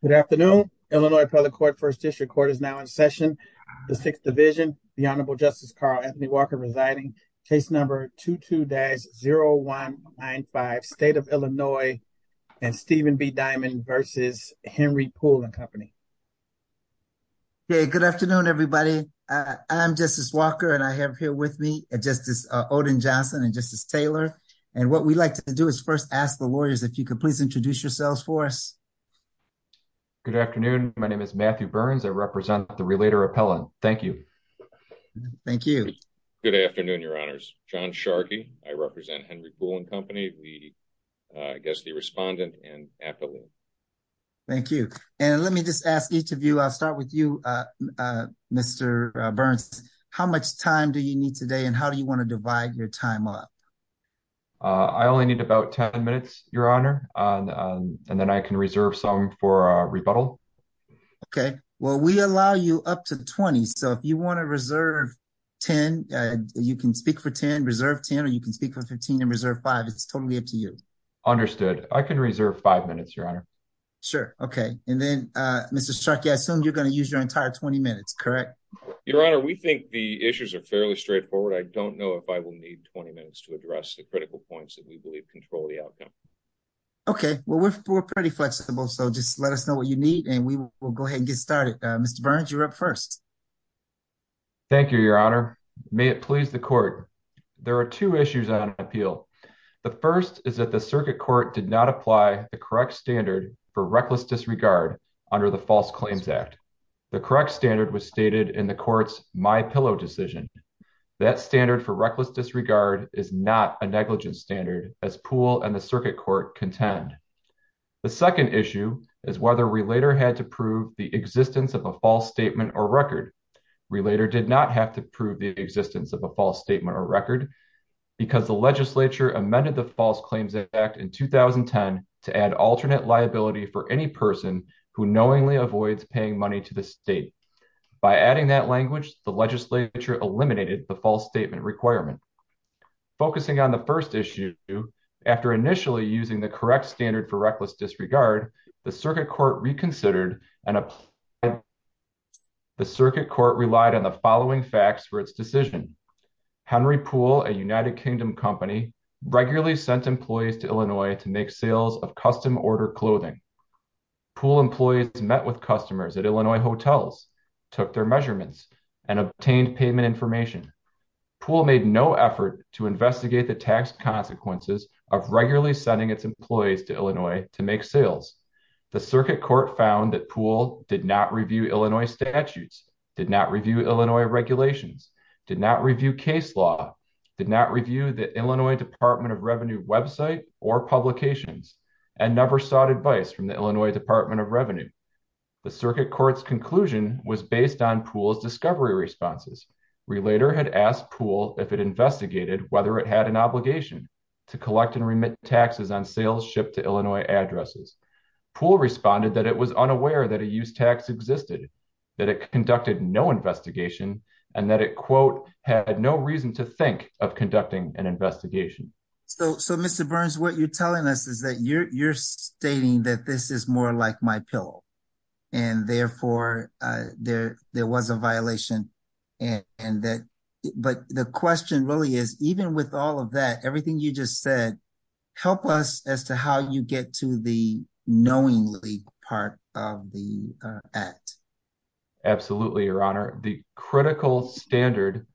Good afternoon, Illinois Appellate Court, 1st District Court is now in session, the 6th Division, the Honorable Justice Carl Anthony Walker residing, case number 22-0195, State of Illinois and Stephen B. Diamond versus Henry Poole and Company. Yeah, good afternoon, everybody. I'm Justice Walker and I have here with me Justice Odin Johnson and Justice Taylor. And what we like to do is first ask the lawyers, if you could please introduce yourselves for us. Good afternoon. My name is Matthew Burns. I represent the Relator Appellate. Thank you. Thank you. Good afternoon, Your Honors. John Sharkey. I represent Henry Poole and Company, I guess the Respondent and Appellate. Thank you. And let me just ask each of you, I'll start with you, Mr. Burns. How much time do you need today? And how do you want to divide your time up? I only need about 10 minutes, Your Honor. And then I can reserve some for rebuttal. Okay, well, we allow you up to 20. So if you want to reserve 10, you can speak for 10, reserve 10, or you can speak for 15 and reserve 5. It's totally up to you. Understood. I can reserve 5 minutes, Your Honor. Sure. Okay. And then, Mr. Sharkey, I assume you're going to use your entire 20 minutes, correct? Your Honor, we think the issues are fairly straightforward. I don't know if I will need 20 minutes to address the critical points that we believe control the outcome. Okay, well, we're pretty flexible. So just let us know what you need. And we will go ahead and get started. Mr. Burns, you're up first. Thank you, Your Honor. May it please the Court. There are two issues on appeal. The first is that the Circuit Court did not apply the correct standard for reckless disregard under the False Claims Act. The correct standard was stated in the Court's My Pillow decision. That standard for reckless disregard is not a negligence standard, as Poole and the Circuit Court contend. The second issue is whether Relator had to prove the existence of a false statement or record. Relator did not have to prove the existence of a false statement or record because the legislature amended the False Claims Act in 2010 to add alternate liability for any person who knowingly avoids paying money to the state. By adding that language, the legislature eliminated the false statement requirement. Focusing on the first issue, after initially using the correct standard for reckless disregard, the Circuit Court reconsidered and applied. The Circuit Court relied on the following facts for its decision. Henry Poole, a United Kingdom company, regularly sent employees to Illinois to make sales of custom order clothing. Poole employees met with customers at Illinois hotels, took their measurements, and obtained payment information. Poole made no effort to investigate the tax consequences of regularly sending its employees to Illinois to make sales. The Circuit Court found that Poole did not review Illinois statutes, did not review Illinois regulations, did not review case law, did not review the Illinois Department of Revenue website or publications, and never sought advice from the Illinois Department of Revenue. The Circuit Court's conclusion was based on Poole's discovery responses. Relator had asked Poole if it investigated whether it had an obligation to collect and remit taxes on sales shipped to Illinois addresses. Poole responded that it was unaware that a use tax existed, that it conducted no investigation, and that it, quote, had no reason to think of conducting an investigation. So, so, Mr. Burns, what you're telling us is that you're, you're stating that this is more like my pillow and therefore there, there was a violation and that, but the question really is, even with all of that, everything you just said, help us as to how you get to the knowingly part of the act. Absolutely, Your Honor. The critical standard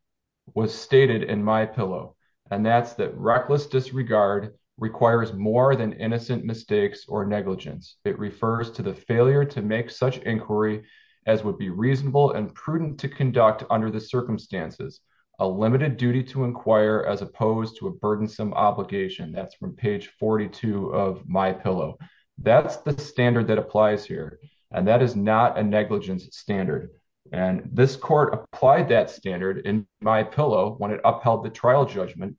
was stated in my pillow, and that's that reckless disregard requires more than innocent mistakes or negligence. It refers to the failure to make such inquiry as would be reasonable and prudent to conduct under the circumstances, a limited duty to inquire as opposed to a burdensome obligation. That's from page 42 of my pillow. That's the standard that applies here. And that is not a negligence standard. And this court applied that standard in my pillow when it upheld the trial judgment.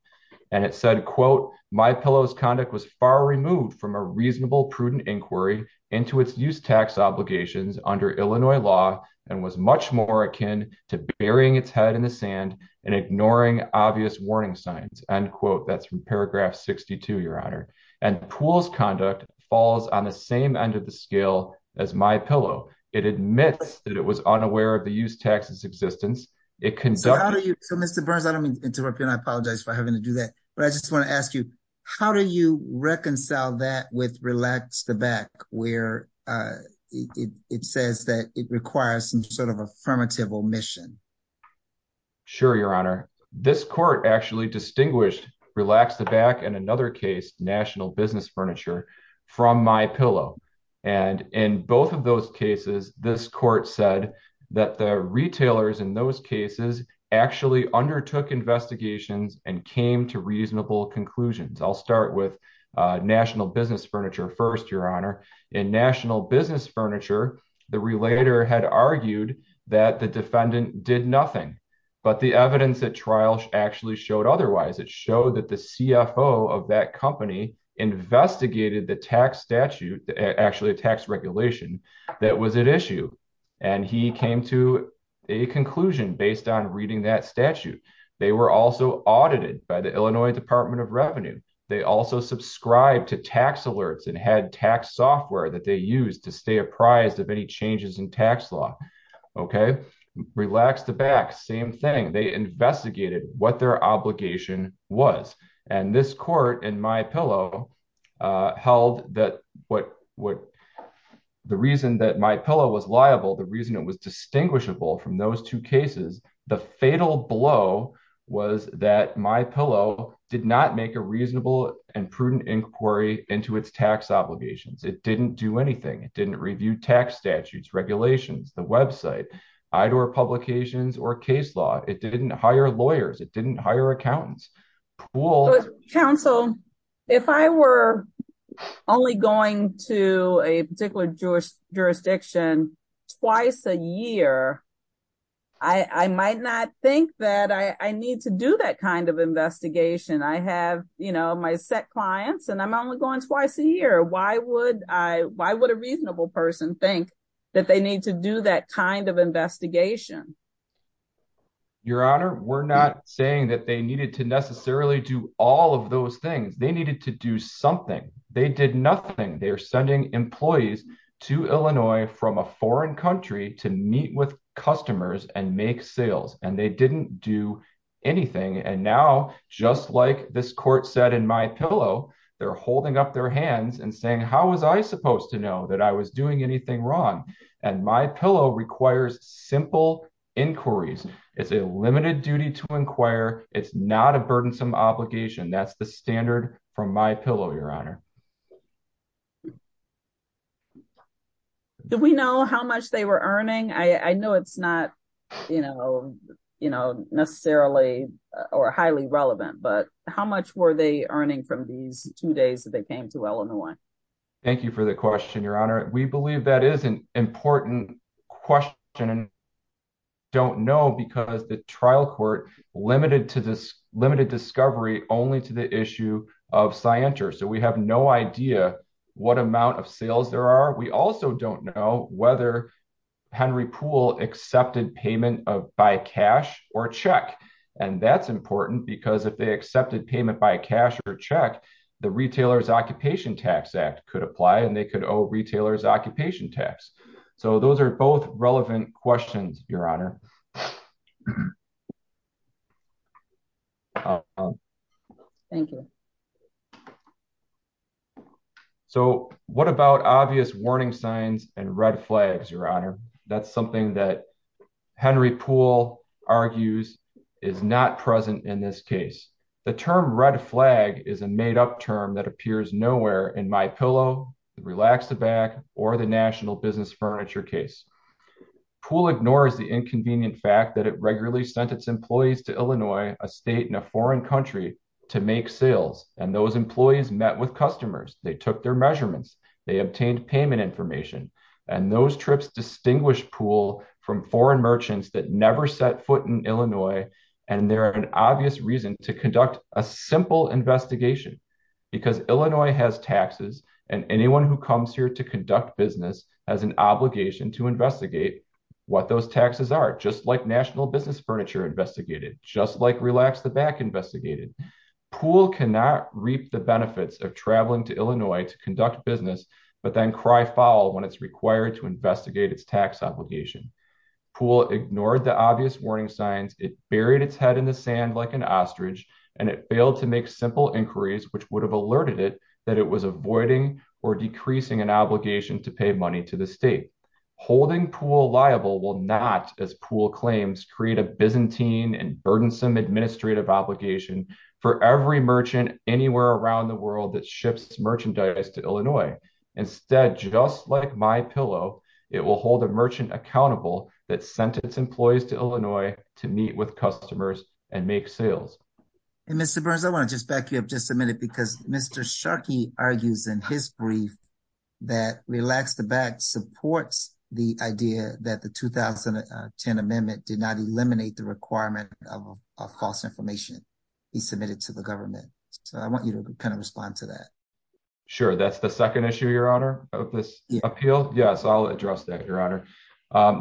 And it said, quote, my pillows conduct was far removed from a reasonable prudent inquiry into its use tax obligations under Illinois law and was much more akin to burying its head in the sand and ignoring obvious warning signs. End quote. That's from paragraph 62, Your Honor. And Poole's conduct falls on the same end of the scale as my pillow. It admits that it was unaware of the use tax's existence. It can So how do you, so Mr. Burns, I don't mean to interrupt you and I apologize for having to do that, but I just want to ask you, how do you reconcile that with relax the back where it says that it requires some sort of affirmative omission? Sure, Your Honor. This court actually distinguished relax the back and another case, national business furniture from my pillow. And in both of those cases, this court said that the retailers in those cases actually undertook investigations and came to reasonable conclusions. I'll start with But the evidence that trial actually showed otherwise, it showed that the CFO of that company investigated the tax statute, actually a tax regulation that was at issue. And he came to a conclusion based on reading that statute. They were also audited by the Illinois Department of Revenue. They also subscribed to tax alerts and had tax software that they used to stay apprised of any changes in tax law. Okay, relax the back, same thing. They investigated what their obligation was. And this court in my pillow held that what would The reason that my pillow was liable, the reason it was distinguishable from those two cases, the fatal blow was that my pillow did not make a reasonable and prudent inquiry into its tax obligations. It didn't do anything. It didn't review tax statutes, regulations, the website, IDOR publications, or case law. It didn't hire lawyers. It didn't hire accountants. Counsel, if I were only going to a particular jurisdiction twice a year, I might not think that I need to do that kind of investigation. I have, you know, my set clients and I'm only going twice a year. Why would I, why would a reasonable person think that they need to do that kind of investigation? Your Honor, we're not saying that they needed to necessarily do all of those things. They needed to do something. They did nothing. They're sending employees to Illinois from a foreign country to meet with customers and make sales and they didn't do anything. And now, just like this court said in my pillow, they're holding up their hands and saying, how was I supposed to know that I was doing anything wrong? And my pillow requires simple inquiries. It's a limited duty to inquire. It's not a burdensome obligation. That's the standard from my pillow, Your Honor. Do we know how much they were earning? I know it's not, you know, you know, necessarily or highly relevant, but how much were they earning from these two days that they came to Illinois? Thank you for the question, Your Honor. We believe that is an important question and don't know because the trial court limited to this limited discovery only to the issue of Scienter. So we have no idea what amount of sales there are. We also don't know whether Henry Poole accepted payment by cash or check. And that's important because if they accepted payment by cash or check, the Retailer's Occupation Tax Act could apply and they could owe Retailer's Occupation Tax. So those are both relevant questions, Your Honor. Thank you. So what about obvious warning signs and red flags, Your Honor? That's something that Henry Poole argues is not present in this case. The term red flag is a made up term that appears nowhere in my pillow, relax the bag, or the National Business Furniture case. Poole ignores the inconvenient fact that it regularly sent its employees to Illinois, a state and a foreign country to make sales. And those employees met with customers, they took their measurements, they obtained payment information. And those trips distinguished Poole from foreign merchants that never set foot in Illinois. And there are an obvious reason to conduct a simple investigation. Because Illinois has taxes, and anyone who comes here to conduct business has an obligation to investigate what those taxes are, just like National Business Furniture investigated, just like relax the bag investigated. Poole cannot reap the benefits of traveling to Illinois to conduct business, but then cry foul when it's required to investigate its tax obligation. Poole ignored the obvious warning signs, it buried its head in the sand like an ostrich, and it failed to make simple inquiries which would have alerted it that it was avoiding or decreasing an obligation to pay money to the state. Holding Poole liable will not, as Poole claims, create a Byzantine and burdensome administrative obligation for every merchant anywhere around the world that ships merchandise to Illinois. Instead, just like my pillow, it will hold a merchant accountable that sent its employees to Illinois to meet with customers and make sales. And Mr. Burns, I want to just back you up just a minute because Mr. Sharkey argues in his brief that relax the bag supports the idea that the 2010 amendment did not eliminate the requirement of false information be submitted to the government. So I want you to kind of respond to that. Sure, that's the second issue, Your Honor, of this appeal. Yes, I'll address that, Your Honor.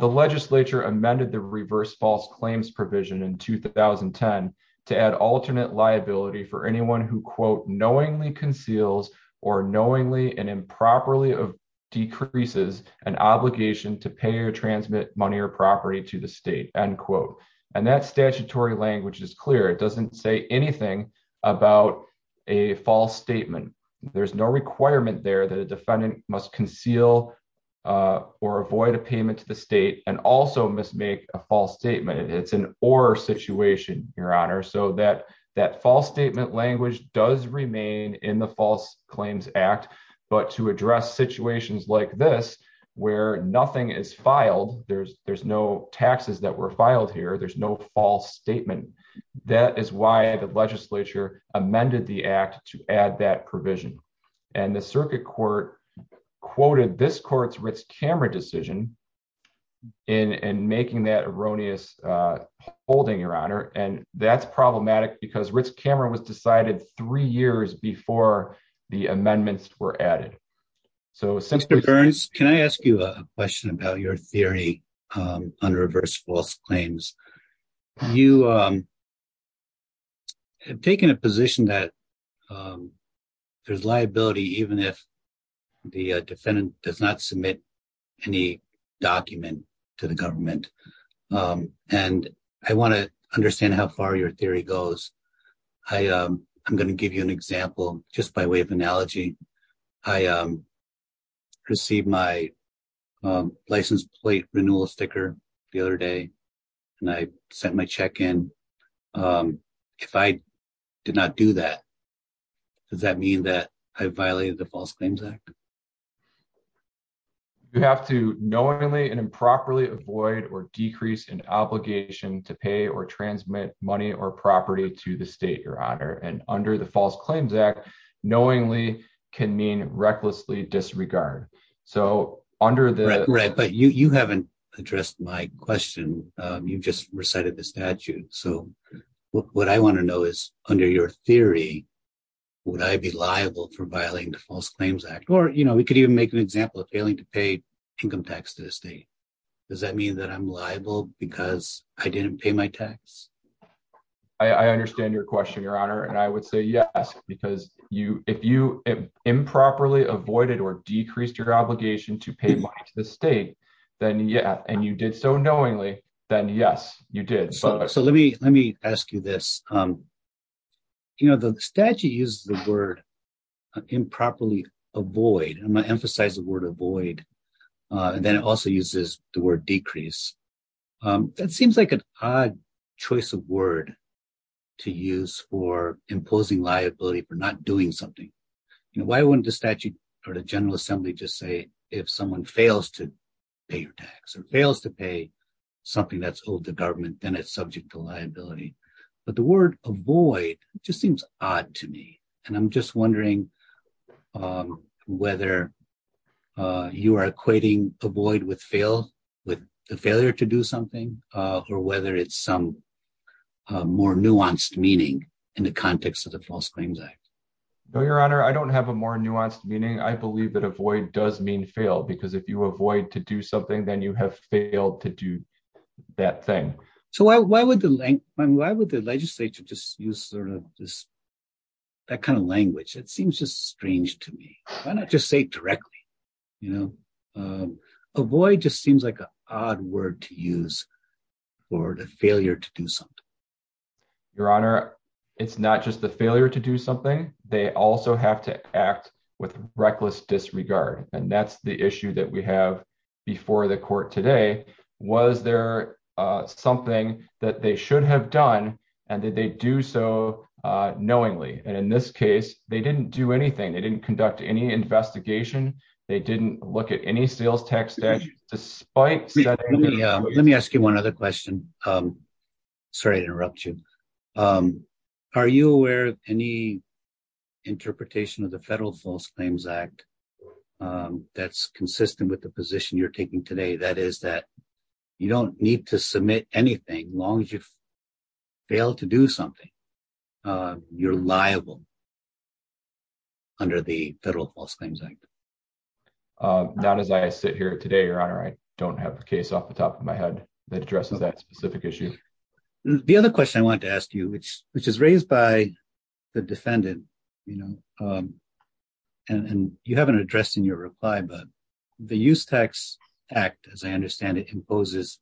The legislature amended the reverse false claims provision in 2010 to add alternate liability for anyone who quote knowingly conceals or knowingly and improperly decreases an obligation to pay or transmit money or property to the state, end quote. And that statutory language is clear. It doesn't say anything about a false statement. There's no requirement there that a defendant must conceal or avoid a payment to the state and also must make a false statement. It's an or situation, Your Honor, so that that false statement language does remain in the False Claims Act, but to address situations like this, where nothing is filed, there's no taxes that were filed here, there's no false statement. That is why the legislature amended the act to add that provision. And the circuit court quoted this court's Ritz-Cameron decision in making that erroneous holding, Your Honor, and that's problematic because Ritz-Cameron was decided three years before the amendments were added. Mr. Burns, can I ask you a question about your theory on reverse false claims? You have taken a position that there's liability even if the defendant does not submit any document to the government. And I want to understand how far your theory goes. I'm going to give you an example, just by way of analogy. I received my license plate renewal sticker the other day, and I sent my check in. If I did not do that, does that mean that I violated the False Claims Act? You have to knowingly and improperly avoid or decrease an obligation to pay or transmit money or property to the state, Your Honor. And under the False Claims Act, knowingly can mean recklessly disregard. But you haven't addressed my question. You just recited the statute. So what I want to know is, under your theory, would I be liable for violating the False Claims Act? Or we could even make an example of failing to pay income tax to the state. Does that mean that I'm liable because I didn't pay my tax? I understand your question, Your Honor. And I would say yes, because if you improperly avoided or decreased your obligation to pay money to the state, and you did so knowingly, then yes, you did. Let me ask you this. The statute uses the word improperly avoid. I'm going to emphasize the word avoid. And then it also uses the word decrease. That seems like an odd choice of word to use for imposing liability for not doing something. Why wouldn't the statute or the General Assembly just say if someone fails to pay your tax or fails to pay something that's owed the government, then it's subject to liability? But the word avoid just seems odd to me. And I'm just wondering whether you are equating avoid with fail, with the failure to do something, or whether it's some more nuanced meaning in the context of the False Claims Act. Your Honor, I don't have a more nuanced meaning. I believe that avoid does mean fail, because if you avoid to do something, then you have failed to do that thing. So why would the legislature just use that kind of language? It seems just strange to me. Why not just say it directly? Avoid just seems like an odd word to use for the failure to do something. Your Honor, it's not just the failure to do something. They also have to act with reckless disregard. And that's the issue that we have before the court today. Was there something that they should have done, and did they do so knowingly? And in this case, they didn't do anything. They didn't conduct any investigation. They didn't look at any sales tax statutes. Let me ask you one other question. Sorry to interrupt you. Are you aware of any interpretation of the Federal False Claims Act that's consistent with the position you're taking today? That is that you don't need to submit anything as long as you fail to do something. You're liable under the Federal False Claims Act. Not as I sit here today, Your Honor. I don't have a case off the top of my head that addresses that specific issue. The other question I wanted to ask you, which is raised by the defendant, and you haven't addressed in your reply, but the Use Tax Act, as I understand it, imposes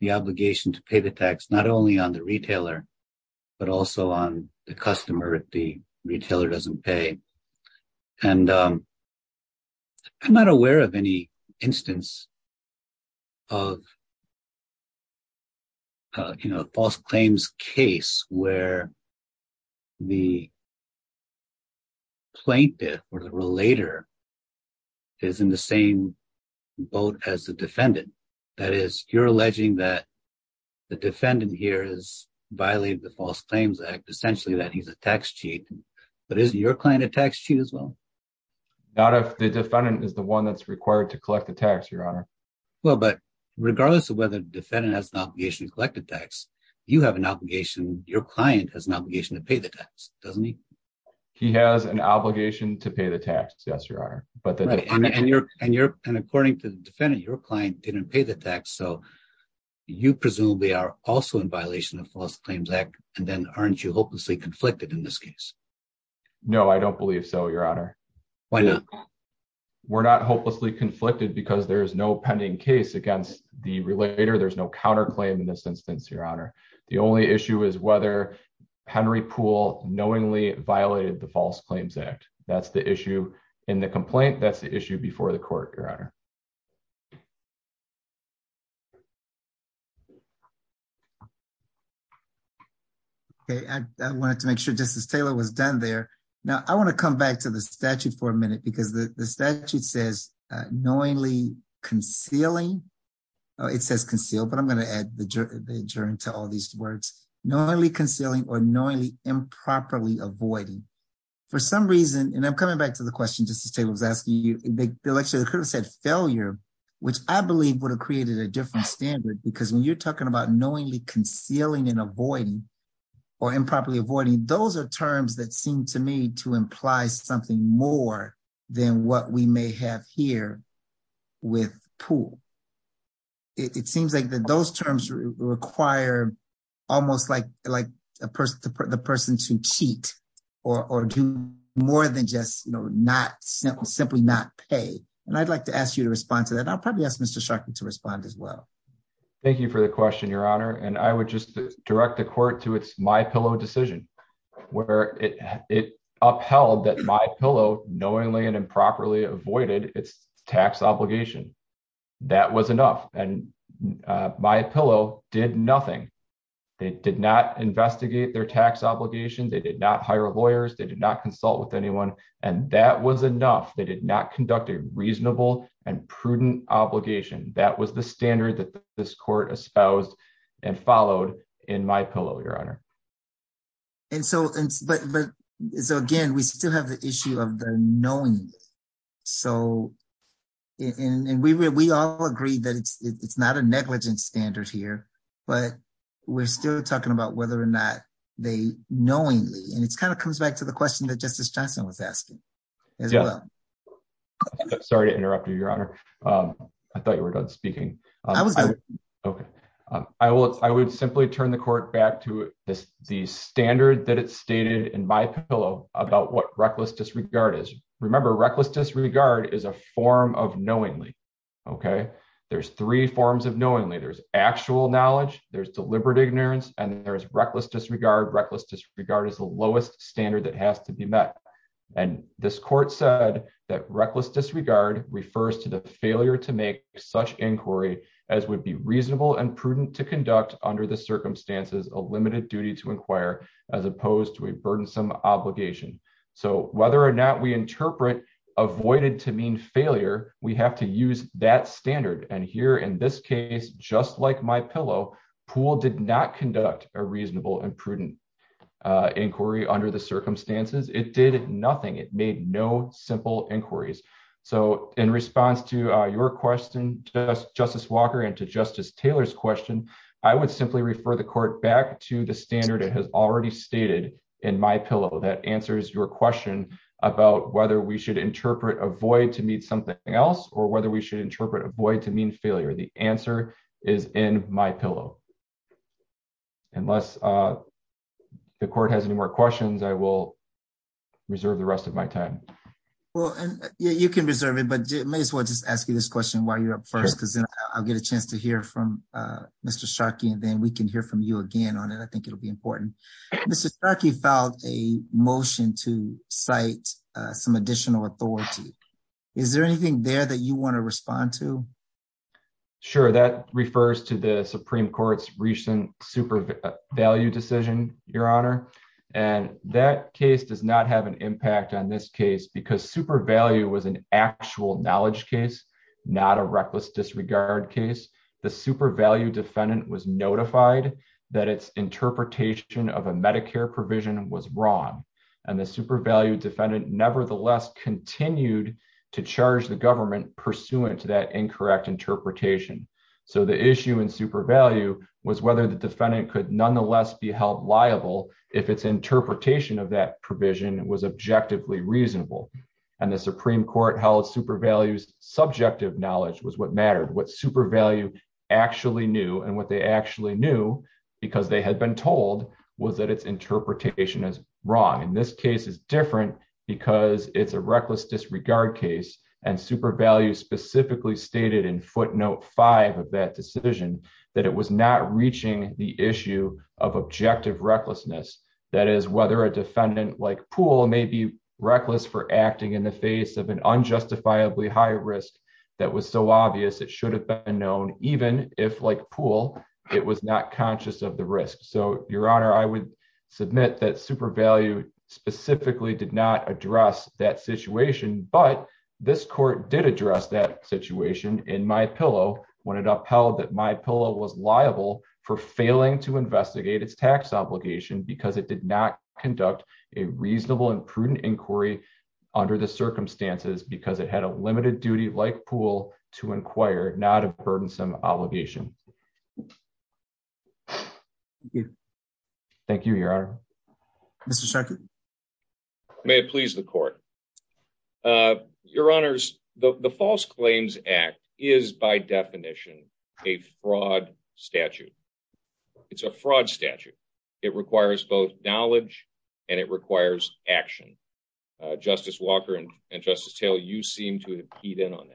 the obligation to pay the tax not only on the retailer, but also on the customer if the retailer doesn't pay. And I'm not aware of any instance of a false claims case where the plaintiff or the relator is in the same boat as the defendant. That is, you're alleging that the defendant here has violated the False Claims Act, essentially that he's a tax cheat. But is your client a tax cheat as well? Not if the defendant is the one that's required to collect the tax, Your Honor. Well, but regardless of whether the defendant has an obligation to collect the tax, you have an obligation, your client has an obligation to pay the tax, doesn't he? He has an obligation to pay the tax, yes, Your Honor. And according to the defendant, your client didn't pay the tax, so you presumably are also in violation of the False Claims Act, and then aren't you hopelessly conflicted in this case? No, I don't believe so, Your Honor. Why not? We're not hopelessly conflicted because there is no pending case against the relator, there's no counterclaim in this instance, Your Honor. The only issue is whether Henry Poole knowingly violated the False Claims Act. That's the issue in the complaint, that's the issue before the court, Your Honor. Okay, I wanted to make sure Justice Taylor was done there. Now, I want to come back to the statute for a minute because the statute says knowingly concealing. It says conceal, but I'm going to add the adjourn to all these words, knowingly concealing or knowingly improperly avoiding. For some reason, and I'm coming back to the question Justice Taylor was asking you, they could have said failure, which I believe would have created a different standard because when you're talking about knowingly concealing and avoiding or improperly avoiding, those are terms that seem to me to imply something more than what we may have here with Poole. It seems like those terms require almost like the person to cheat or do more than just simply not pay. And I'd like to ask you to respond to that. I'll probably ask Mr. Sharkey to respond as well. Thank you for the question, Your Honor, and I would just direct the court to its MyPillow decision, where it upheld that MyPillow knowingly and improperly avoided its tax obligation. That was enough and MyPillow did nothing. They did not investigate their tax obligations, they did not hire lawyers, they did not consult with anyone, and that was enough. They did not conduct a reasonable and prudent obligation. That was the standard that this court espoused and followed in MyPillow, Your Honor. And so, again, we still have the issue of the knowingly. And we all agree that it's not a negligence standard here, but we're still talking about whether or not they knowingly. And it kind of comes back to the question that Justice Johnson was asking as well. Sorry to interrupt you, Your Honor. I thought you were done speaking. I would simply turn the court back to the standard that it stated in MyPillow about what reckless disregard is. Remember, reckless disregard is a form of knowingly. Okay, there's three forms of knowingly. There's actual knowledge, there's deliberate ignorance, and there's reckless disregard. Reckless disregard is the lowest standard that has to be met. And this court said that reckless disregard refers to the failure to make such inquiry as would be reasonable and prudent to conduct under the circumstances a limited duty to inquire, as opposed to a burdensome obligation. So whether or not we interpret avoided to mean failure, we have to use that standard. And here in this case, just like MyPillow, Poole did not conduct a reasonable and prudent inquiry under the circumstances. It did nothing. It made no simple inquiries. So in response to your question, Justice Walker, and to Justice Taylor's question, I would simply refer the court back to the standard it has already stated in MyPillow that answers your question about whether we should interpret avoid to mean something else or whether we should interpret avoid to mean failure. The answer is in MyPillow. Unless the court has any more questions, I will reserve the rest of my time. Well, you can reserve it but may as well just ask you this question while you're up first because then I'll get a chance to hear from Mr. Sharkey and then we can hear from you again on it I think it'll be important. Mr. Sharkey filed a motion to cite some additional authority. Is there anything there that you want to respond to? Sure, that refers to the Supreme Court's recent super value decision, Your Honor. And that case does not have an impact on this case because super value was an actual knowledge case, not a reckless disregard case. The super value defendant was notified that its interpretation of a Medicare provision was wrong. And the super value defendant nevertheless continued to charge the government pursuant to that incorrect interpretation. So the issue in super value was whether the defendant could nonetheless be held liable if its interpretation of that provision was objectively reasonable. And the Supreme Court held super values subjective knowledge was what mattered what super value actually knew and what they actually knew because they had been told was that its interpretation is wrong. And this case is different because it's a reckless disregard case and super value specifically stated in footnote five of that decision that it was not reaching the issue of objective recklessness. That is whether a defendant like pool may be reckless for acting in the face of an unjustifiably high risk. That was so obvious it should have been known, even if like pool. It was not conscious of the risk. So, Your Honor, I would submit that super value specifically did not address that situation but this court did address that situation in my pillow when it upheld that my pillow was liable for failing to investigate its tax obligation because it did not conduct a reasonable and prudent inquiry. Under the circumstances because it had a limited duty like pool to inquire not a burdensome obligation. Thank you, Your Honor. Mr second. May it please the court. Your Honors, the false claims act is by definition, a fraud statute. It's a fraud statute. It requires both knowledge, and it requires action. Justice Walker and and Justice Taylor you seem to eat in on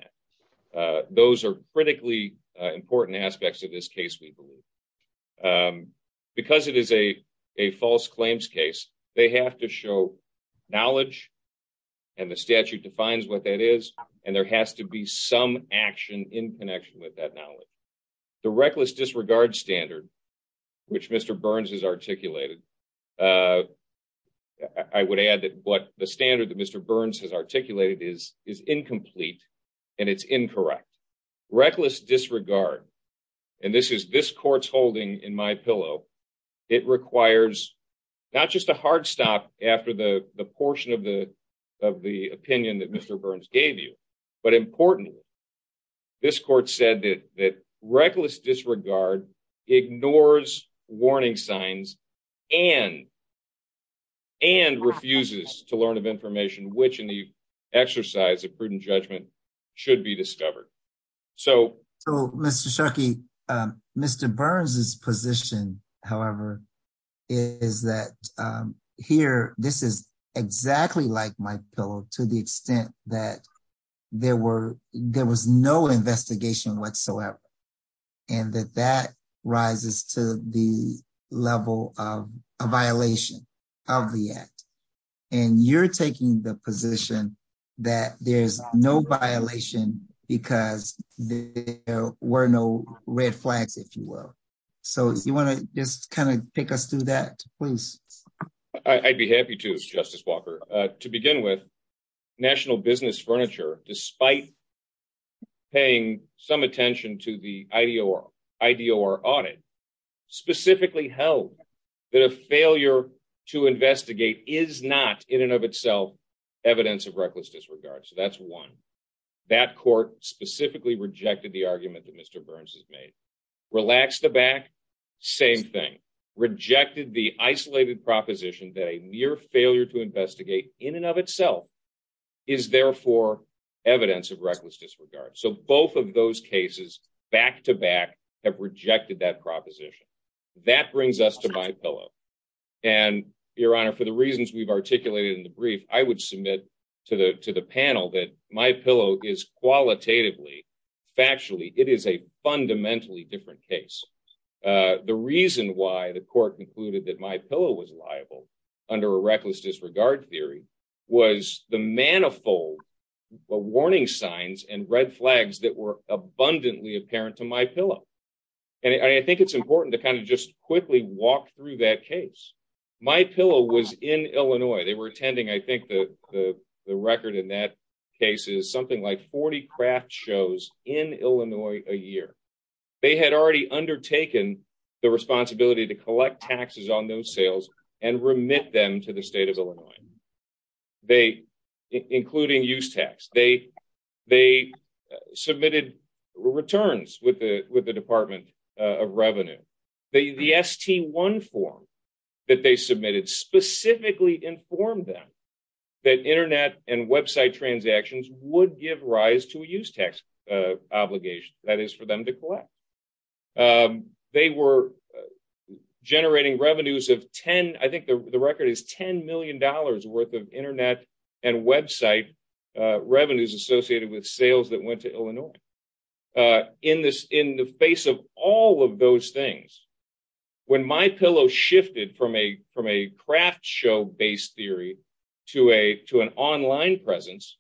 that. Those are critically important aspects of this case we believe. Because it is a, a false claims case, they have to show knowledge, and the statute defines what that is, and there has to be some action in connection with that knowledge. The reckless disregard standard, which Mr Burns is articulated. I would add that what the standard that Mr Burns has articulated is is incomplete, and it's incorrect reckless disregard. And this is this court's holding in my pillow. It requires not just a hard stop after the portion of the of the opinion that Mr Burns gave you. But importantly, this court said that that reckless disregard ignores warning signs, and, and refuses to learn of information which in the exercise of prudent judgment should be discovered. So, so, Mr Sharkey. Mr Burns is position, however, is that here, this is exactly like my pillow to the extent that there were, there was no investigation whatsoever. And that that rises to the level of a violation of the act. And you're taking the position that there's no violation, because there were no red flags if you will. So you want to just kind of pick us through that, please. I'd be happy to justice Walker. To begin with, national business furniture, despite paying some attention to the ID or ID or audit, specifically held that a failure to investigate is not in and of itself, evidence of reckless disregard so that's one. That court specifically rejected the argument that Mr Burns has made. Relax the back. Same thing, rejected the isolated proposition that a mere failure to investigate in and of itself is therefore evidence of reckless disregard so both of those cases, back to back, have rejected that proposition. That brings us to my pillow. And your honor for the reasons we've articulated in the brief, I would submit to the to the panel that my pillow is qualitatively factually, it is a fundamentally different case. The reason why the court concluded that my pillow was liable under a reckless disregard theory was the manifold warning signs and red flags that were abundantly apparent to my pillow. And I think it's important to kind of just quickly walk through that case. My pillow was in Illinois they were attending I think the record in that case is something like 40 craft shows in Illinois, a year. They had already undertaken the responsibility to collect taxes on those sales and remit them to the state of Illinois. They, including use tax, they, they submitted returns with the, with the Department of Revenue, they the st one form that they submitted specifically informed them that internet and website transactions would give rise to a use tax obligation, that is for them to collect. They were generating revenues of 10, I think the record is $10 million worth of internet and website revenues associated with sales that went to Illinois. In this, in the face of all of those things, when my pillow shifted from a, from a craft show based theory to a, to an online presence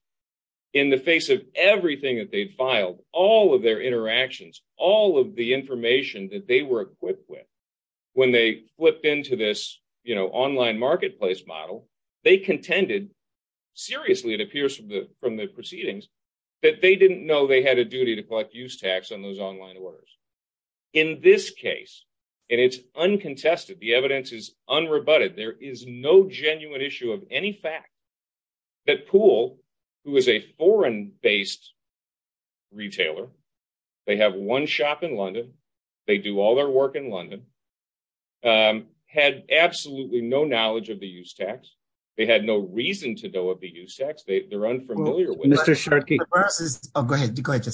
in the face of everything that they filed all of their interactions, all of the information that they were equipped with. When they flipped into this, you know, online marketplace model, they contended. Seriously, it appears from the, from the proceedings that they didn't know they had a duty to collect use tax on those online orders. In this case, and it's uncontested, the evidence is unrebutted. There is no genuine issue of any fact that pool, who is a foreign based retailer. They have one shop in London. They do all their work in London. Had absolutely no knowledge of the use tax. They had no reason to know what the use tax they're unfamiliar with. Oh, go ahead. Go ahead.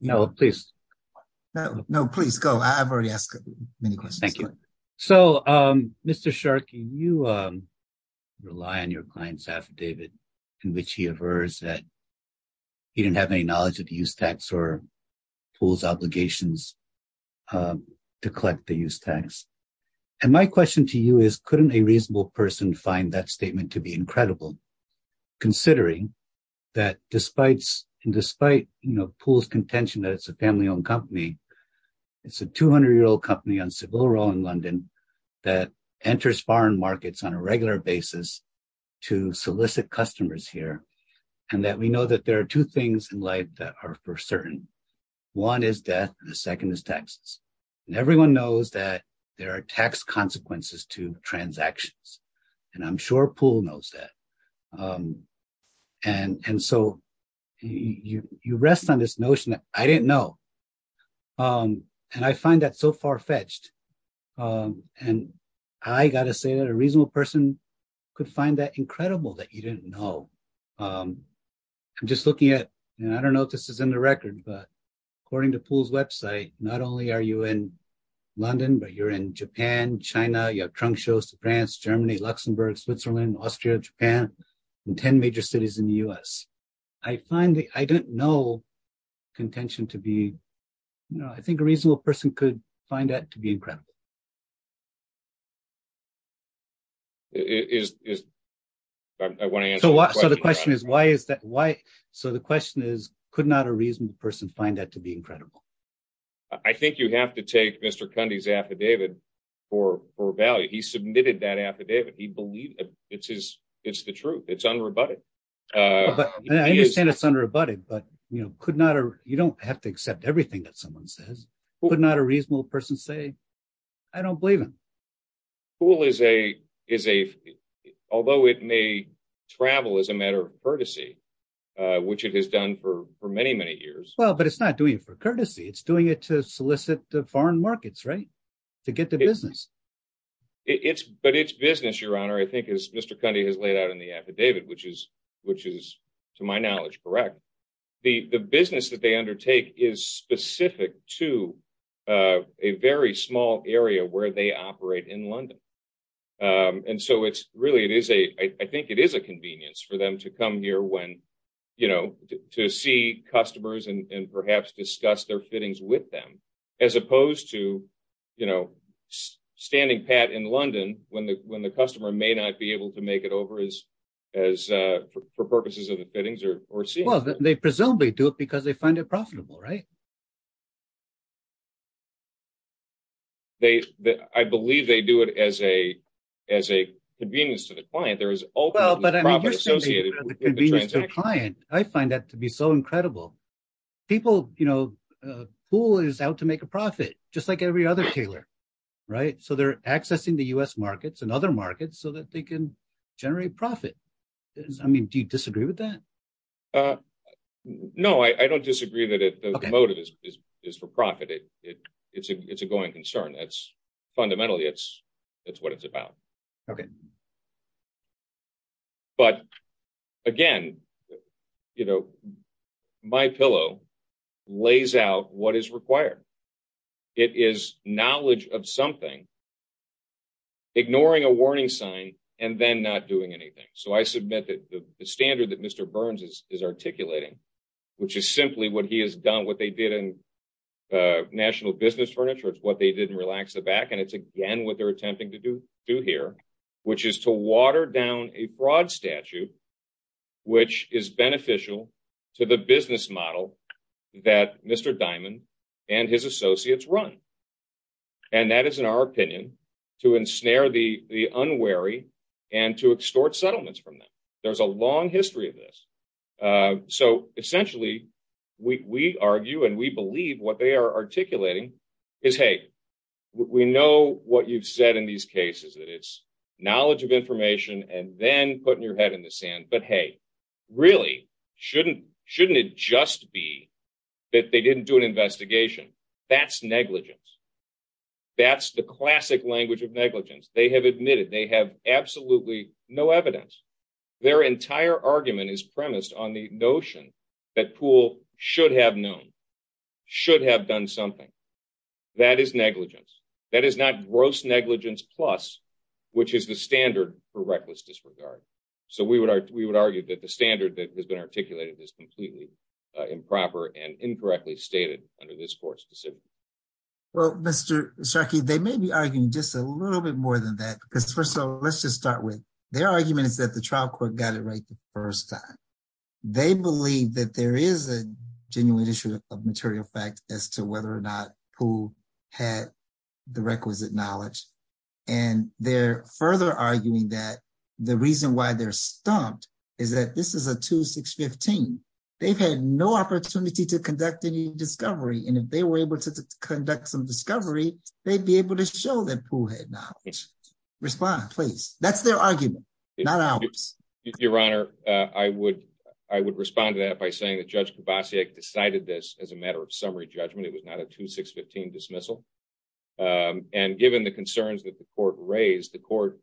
No, please. No, no, please go. I've already asked many questions. Thank you. So, Mr Sharkey you rely on your client's affidavit, in which he averse that he didn't have any knowledge of the use tax or pools obligations to collect the use tax. And my question to you is couldn't a reasonable person find that statement to be incredible. Considering that, despite, despite, you know, pools contention that it's a family owned company. It's a 200 year old company on civil role in London that enters foreign markets on a regular basis to solicit customers here. And that we know that there are two things in life that are for certain. One is death. The second is taxes, and everyone knows that there are tax consequences to transactions, and I'm sure pool knows that. And, and so you rest on this notion that I didn't know. And I find that so far fetched. And I gotta say that a reasonable person could find that incredible that you didn't know. I'm just looking at, and I don't know if this is in the record, but according to pool's website, not only are you in London, but you're in Japan, China, your trunk shows to France, Germany, Luxembourg, Switzerland, Austria, Japan, and 10 major cities in the US. I find that I didn't know contention to be, you know, I think a reasonable person could find that to be incredible. Is. I want to answer the question is, why is that? Why? So the question is, could not a reasonable person find that to be incredible? I think you have to take Mr. Cundy's affidavit for value. He submitted that affidavit. He believed it's his. It's the truth. It's unrebutted. I understand it's unrebutted, but, you know, could not or you don't have to accept everything that someone says, but not a reasonable person say, I don't believe him. Pool is a, is a, although it may travel as a matter of courtesy, which it has done for many, many years. Well, but it's not doing it for courtesy. It's doing it to solicit the foreign markets, right? To get the business. It's, but it's business, your honor, I think is Mr. Cundy has laid out in the affidavit, which is, which is to my knowledge. Correct. The business that they undertake is specific to a very small area where they operate in London. And so it's really, it is a, I think it is a convenience for them to come here when, you know, to see customers and perhaps discuss their fittings with them. As opposed to, you know, standing pat in London when the, when the customer may not be able to make it over as, as for purposes of the fittings or, or see. Well, they presumably do it because they find it profitable, right? They, I believe they do it as a, as a convenience to the client. There is. Well, but I mean, I find that to be so incredible. People, you know, pool is out to make a profit, just like every other tailor. Right. So they're accessing the U.S. markets and other markets so that they can generate profit. I mean, do you disagree with that? No, I don't disagree that the motive is, is, is for profit. It, it, it's a, it's a going concern. That's fundamentally. It's, it's what it's about. Okay, but again. You know, my pillow lays out what is required. It is knowledge of something ignoring a warning sign and then not doing anything. So I submit that the standard that Mr. Burns is, is articulating. Which is simply what he has done, what they did in national business furniture. It's what they didn't relax the back. And it's again, what they're attempting to do do here, which is to water down a fraud statute. Which is beneficial to the business model that Mr. Diamond and his associates run. And that is in our opinion to ensnare the unwary and to extort settlements from them. There's a long history of this. So, essentially, we argue and we believe what they are articulating is, hey, we know what you've said in these cases that it's knowledge of information and then putting your head in the sand. But, hey, really, shouldn't, shouldn't it just be that they didn't do an investigation. That's negligence. That's the classic language of negligence. They have admitted they have absolutely no evidence. Their entire argument is premised on the notion that Poole should have known. Should have done something. That is negligence. That is not gross negligence plus, which is the standard for reckless disregard. So, we would argue that the standard that has been articulated is completely improper and incorrectly stated under this court specifically. Well, Mr. Sharkey, they may be arguing just a little bit more than that, because first of all, let's just start with their argument is that the trial court got it right the 1st time. They believe that there is a genuine issue of material fact as to whether or not who had the requisite knowledge. And they're further arguing that the reason why they're stumped is that this is a 2-6-15. They've had no opportunity to conduct any discovery. And if they were able to conduct some discovery, they'd be able to show that Poole had knowledge. Respond, please. That's their argument, not ours. Your Honor, I would respond to that by saying that Judge Kovacic decided this as a matter of summary judgment. It was not a 2-6-15 dismissal. And given the concerns that the court raised, the court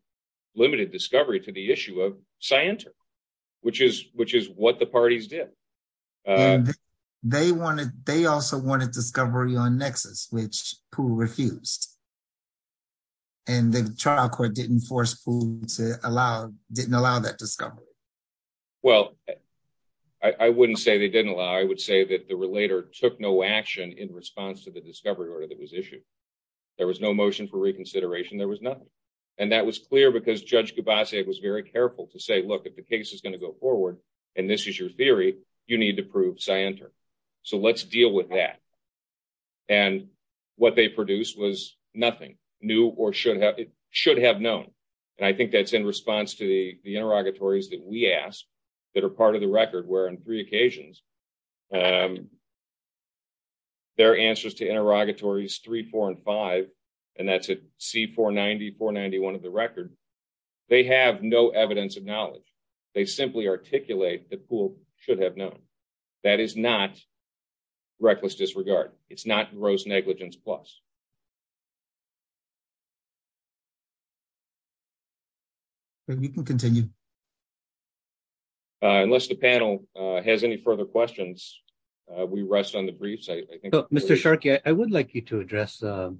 limited discovery to the issue of scienter, which is what the parties did. They wanted they also wanted discovery on Nexus, which Poole refused. And the trial court didn't force Poole to allow didn't allow that discovery. Well, I wouldn't say they didn't allow, I would say that the relator took no action in response to the discovery order that was issued. There was no motion for reconsideration. There was nothing. And that was clear because Judge Kovacic was very careful to say, look, if the case is going to go forward and this is your theory, you need to prove scienter. So let's deal with that. And what they produced was nothing new or should have should have known. And I think that's in response to the interrogatories that we ask that are part of the record, where on three occasions. There are answers to interrogatories three, four and five, and that's a C-490, 491 of the record. They have no evidence of knowledge. They simply articulate that Poole should have known. That is not reckless disregard. It's not gross negligence plus. We can continue. Unless the panel has any further questions, we rest on the briefs. Mr. Sharkey, I would like you to address the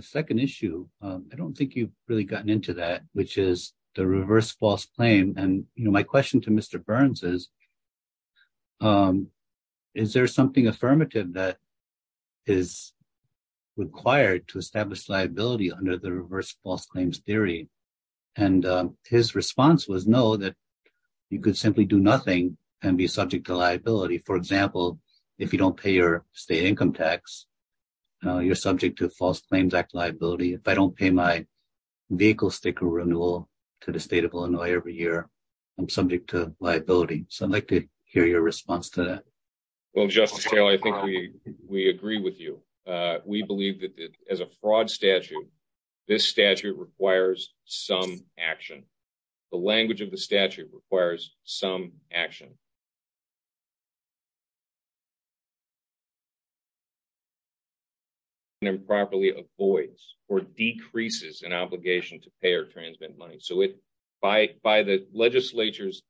second issue. I don't think you've really gotten into that, which is the reverse false claim. And my question to Mr. Burns is, is there something affirmative that is required to establish liability under the reverse false claims theory? And his response was no, that you could simply do nothing and be subject to liability. For example, if you don't pay your state income tax, you're subject to false claims act liability. If I don't pay my vehicle sticker renewal to the state of Illinois every year, I'm subject to liability. So I'd like to hear your response to that. Well, Justice Taylor, I think we we agree with you. We believe that as a fraud statute, this statute requires some action. The language of the statute requires some action. And improperly avoids or decreases an obligation to pay or transmit money. So it by by the legislature's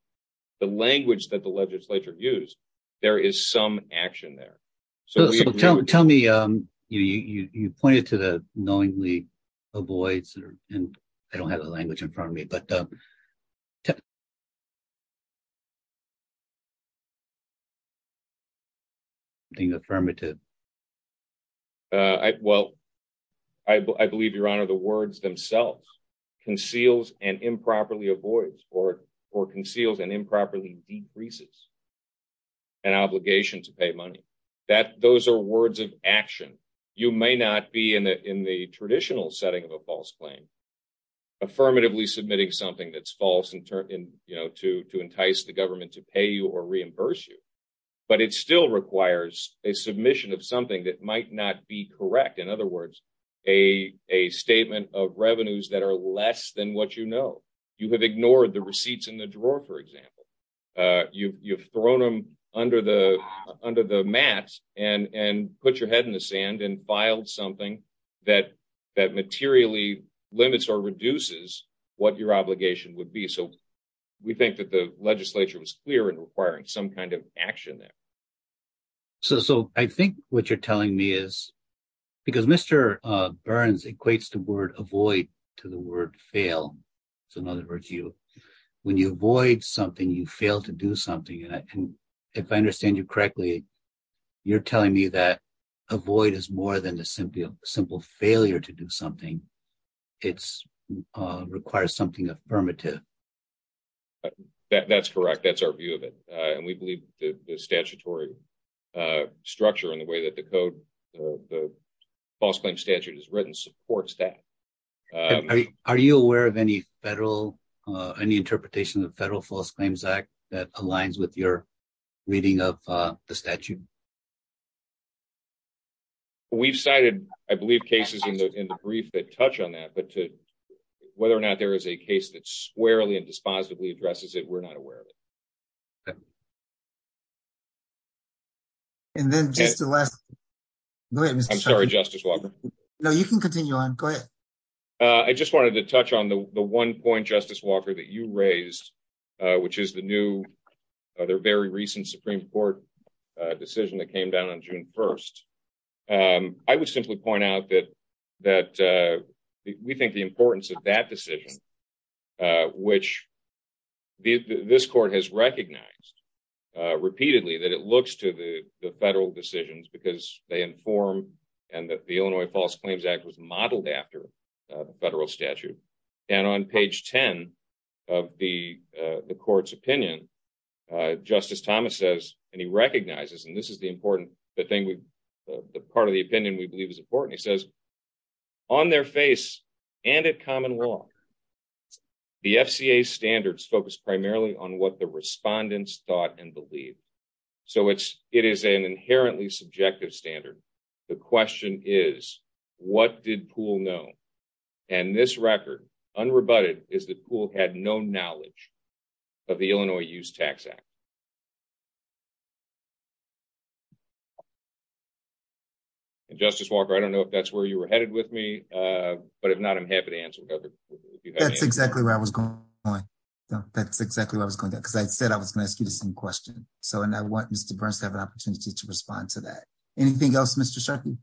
the language that the legislature use, there is some action there. Tell me you pointed to the knowingly avoids. And I don't have the language in front of me, but. Affirmative. Well, I believe, Your Honor, the words themselves conceals and improperly avoids or or conceals and improperly decreases. An obligation to pay money that those are words of action, you may not be in the in the traditional setting of a false claim. Affirmatively submitting something that's false and to entice the government to pay you or reimburse you. But it still requires a submission of something that might not be correct. In other words, a a statement of revenues that are less than what you know, you have ignored the receipts in the drawer, for example. You've thrown them under the under the mat and put your head in the sand and filed something that that materially limits or reduces what your obligation would be. So we think that the legislature was clear in requiring some kind of action there. So I think what you're telling me is because Mr. Burns equates the word avoid to the word fail. So in other words, you when you avoid something, you fail to do something. And if I understand you correctly, you're telling me that avoid is more than a simple, simple failure to do something. It's requires something affirmative. That's correct. That's our view of it. And we believe the statutory structure and the way that the code, the false claim statute is written, supports that. Are you aware of any federal, any interpretation of the Federal False Claims Act that aligns with your reading of the statute? We've cited, I believe, cases in the brief that touch on that, but to whether or not there is a case that squarely and dispositively addresses it, we're not aware of it. And then just the last. I'm sorry, Justice Walker. No, you can continue on. Go ahead. I just wanted to touch on the 1 point Justice Walker that you raised, which is the new other very recent Supreme Court decision that came down on June 1st. I would simply point out that that we think the importance of that decision, which this court has recognized repeatedly, that it looks to the federal decisions because they inform and that the Illinois False Claims Act was modeled after the federal statute. And on page 10 of the court's opinion, Justice Thomas says, and he recognizes, and this is the important thing, the part of the opinion we believe is important. He says on their face and at common law, the FCA standards focus primarily on what the respondents thought and believe. So, it is an inherently subjective standard. The question is, what did Poole know? And this record, unrebutted, is that Poole had no knowledge of the Illinois Use Tax Act. Justice Walker, I don't know if that's where you were headed with me, but if not, I'm happy to answer. That's exactly where I was going. That's exactly what I was going to, because I said I was going to ask you the same question. So, and I want Mr. Burns to have an opportunity to respond to that. Anything else, Mr. Sharkey?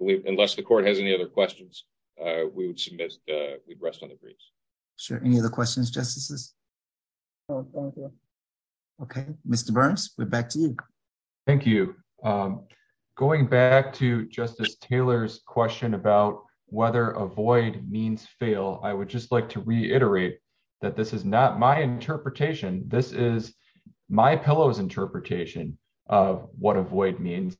Unless the court has any other questions, we would submit, we'd rest on the briefs. Sure. Any other questions, Justices? Okay, Mr. Burns, we're back to you. Thank you. Going back to Justice Taylor's question about whether avoid means fail, I would just like to reiterate that this is not my interpretation. This is MyPillow's interpretation of what avoid means,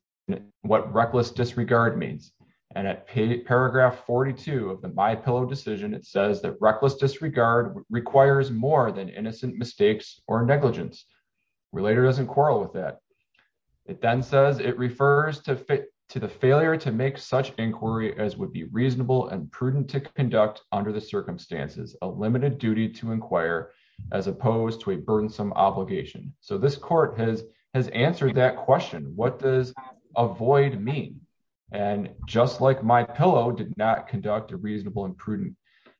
what reckless disregard means. And at paragraph 42 of the MyPillow decision, it says that reckless disregard requires more than innocent mistakes or negligence. Relator doesn't quarrel with that. It then says it refers to the failure to make such inquiry as would be reasonable and prudent to conduct under the circumstances, a limited duty to inquire, as opposed to a burdensome obligation. So this court has answered that question. What does avoid mean? And just like MyPillow did not conduct a reasonable and prudent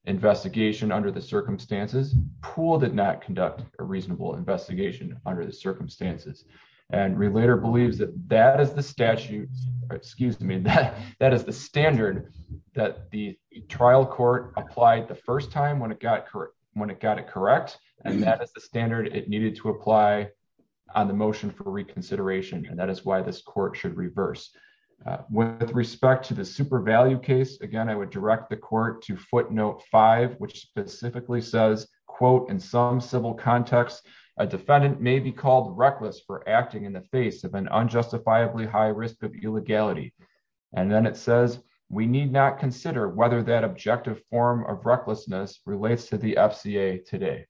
investigation under the circumstances, Poole did not conduct a reasonable investigation under the circumstances. And Relator believes that that is the statute, excuse me, that is the standard that the trial court applied the first time when it got it correct. And that is the standard it needed to apply on the motion for reconsideration. And that is why this court should reverse. With respect to the super value case, again, I would direct the court to footnote five, which specifically says, quote, in some civil context, a defendant may be called reckless for acting in the face of an unjustifiably high risk of illegality. And then it says, we need not consider whether that objective form of recklessness relates to the FCA today.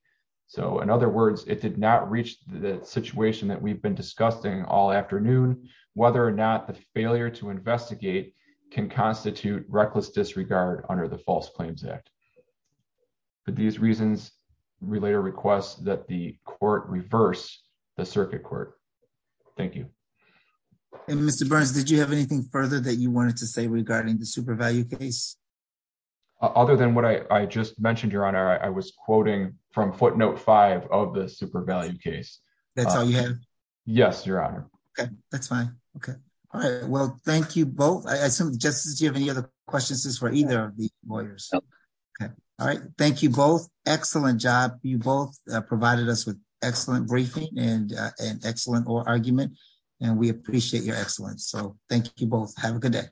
So in other words, it did not reach the situation that we've been discussing all afternoon, whether or not the failure to investigate can constitute reckless disregard under the False Claims Act. For these reasons, Relator requests that the court reverse the circuit court. Thank you. And Mr. Burns, did you have anything further that you wanted to say regarding the super value case? Other than what I just mentioned, Your Honor, I was quoting from footnote five of the super value case. That's all you have? Yes, Your Honor. Okay, that's fine. Okay. All right. Well, thank you both. I assume, Justice, do you have any other questions for either of the lawyers? All right. Thank you both. Excellent job. You both provided us with excellent briefing and an excellent argument. And we appreciate your excellence. So thank you both. Have a good day.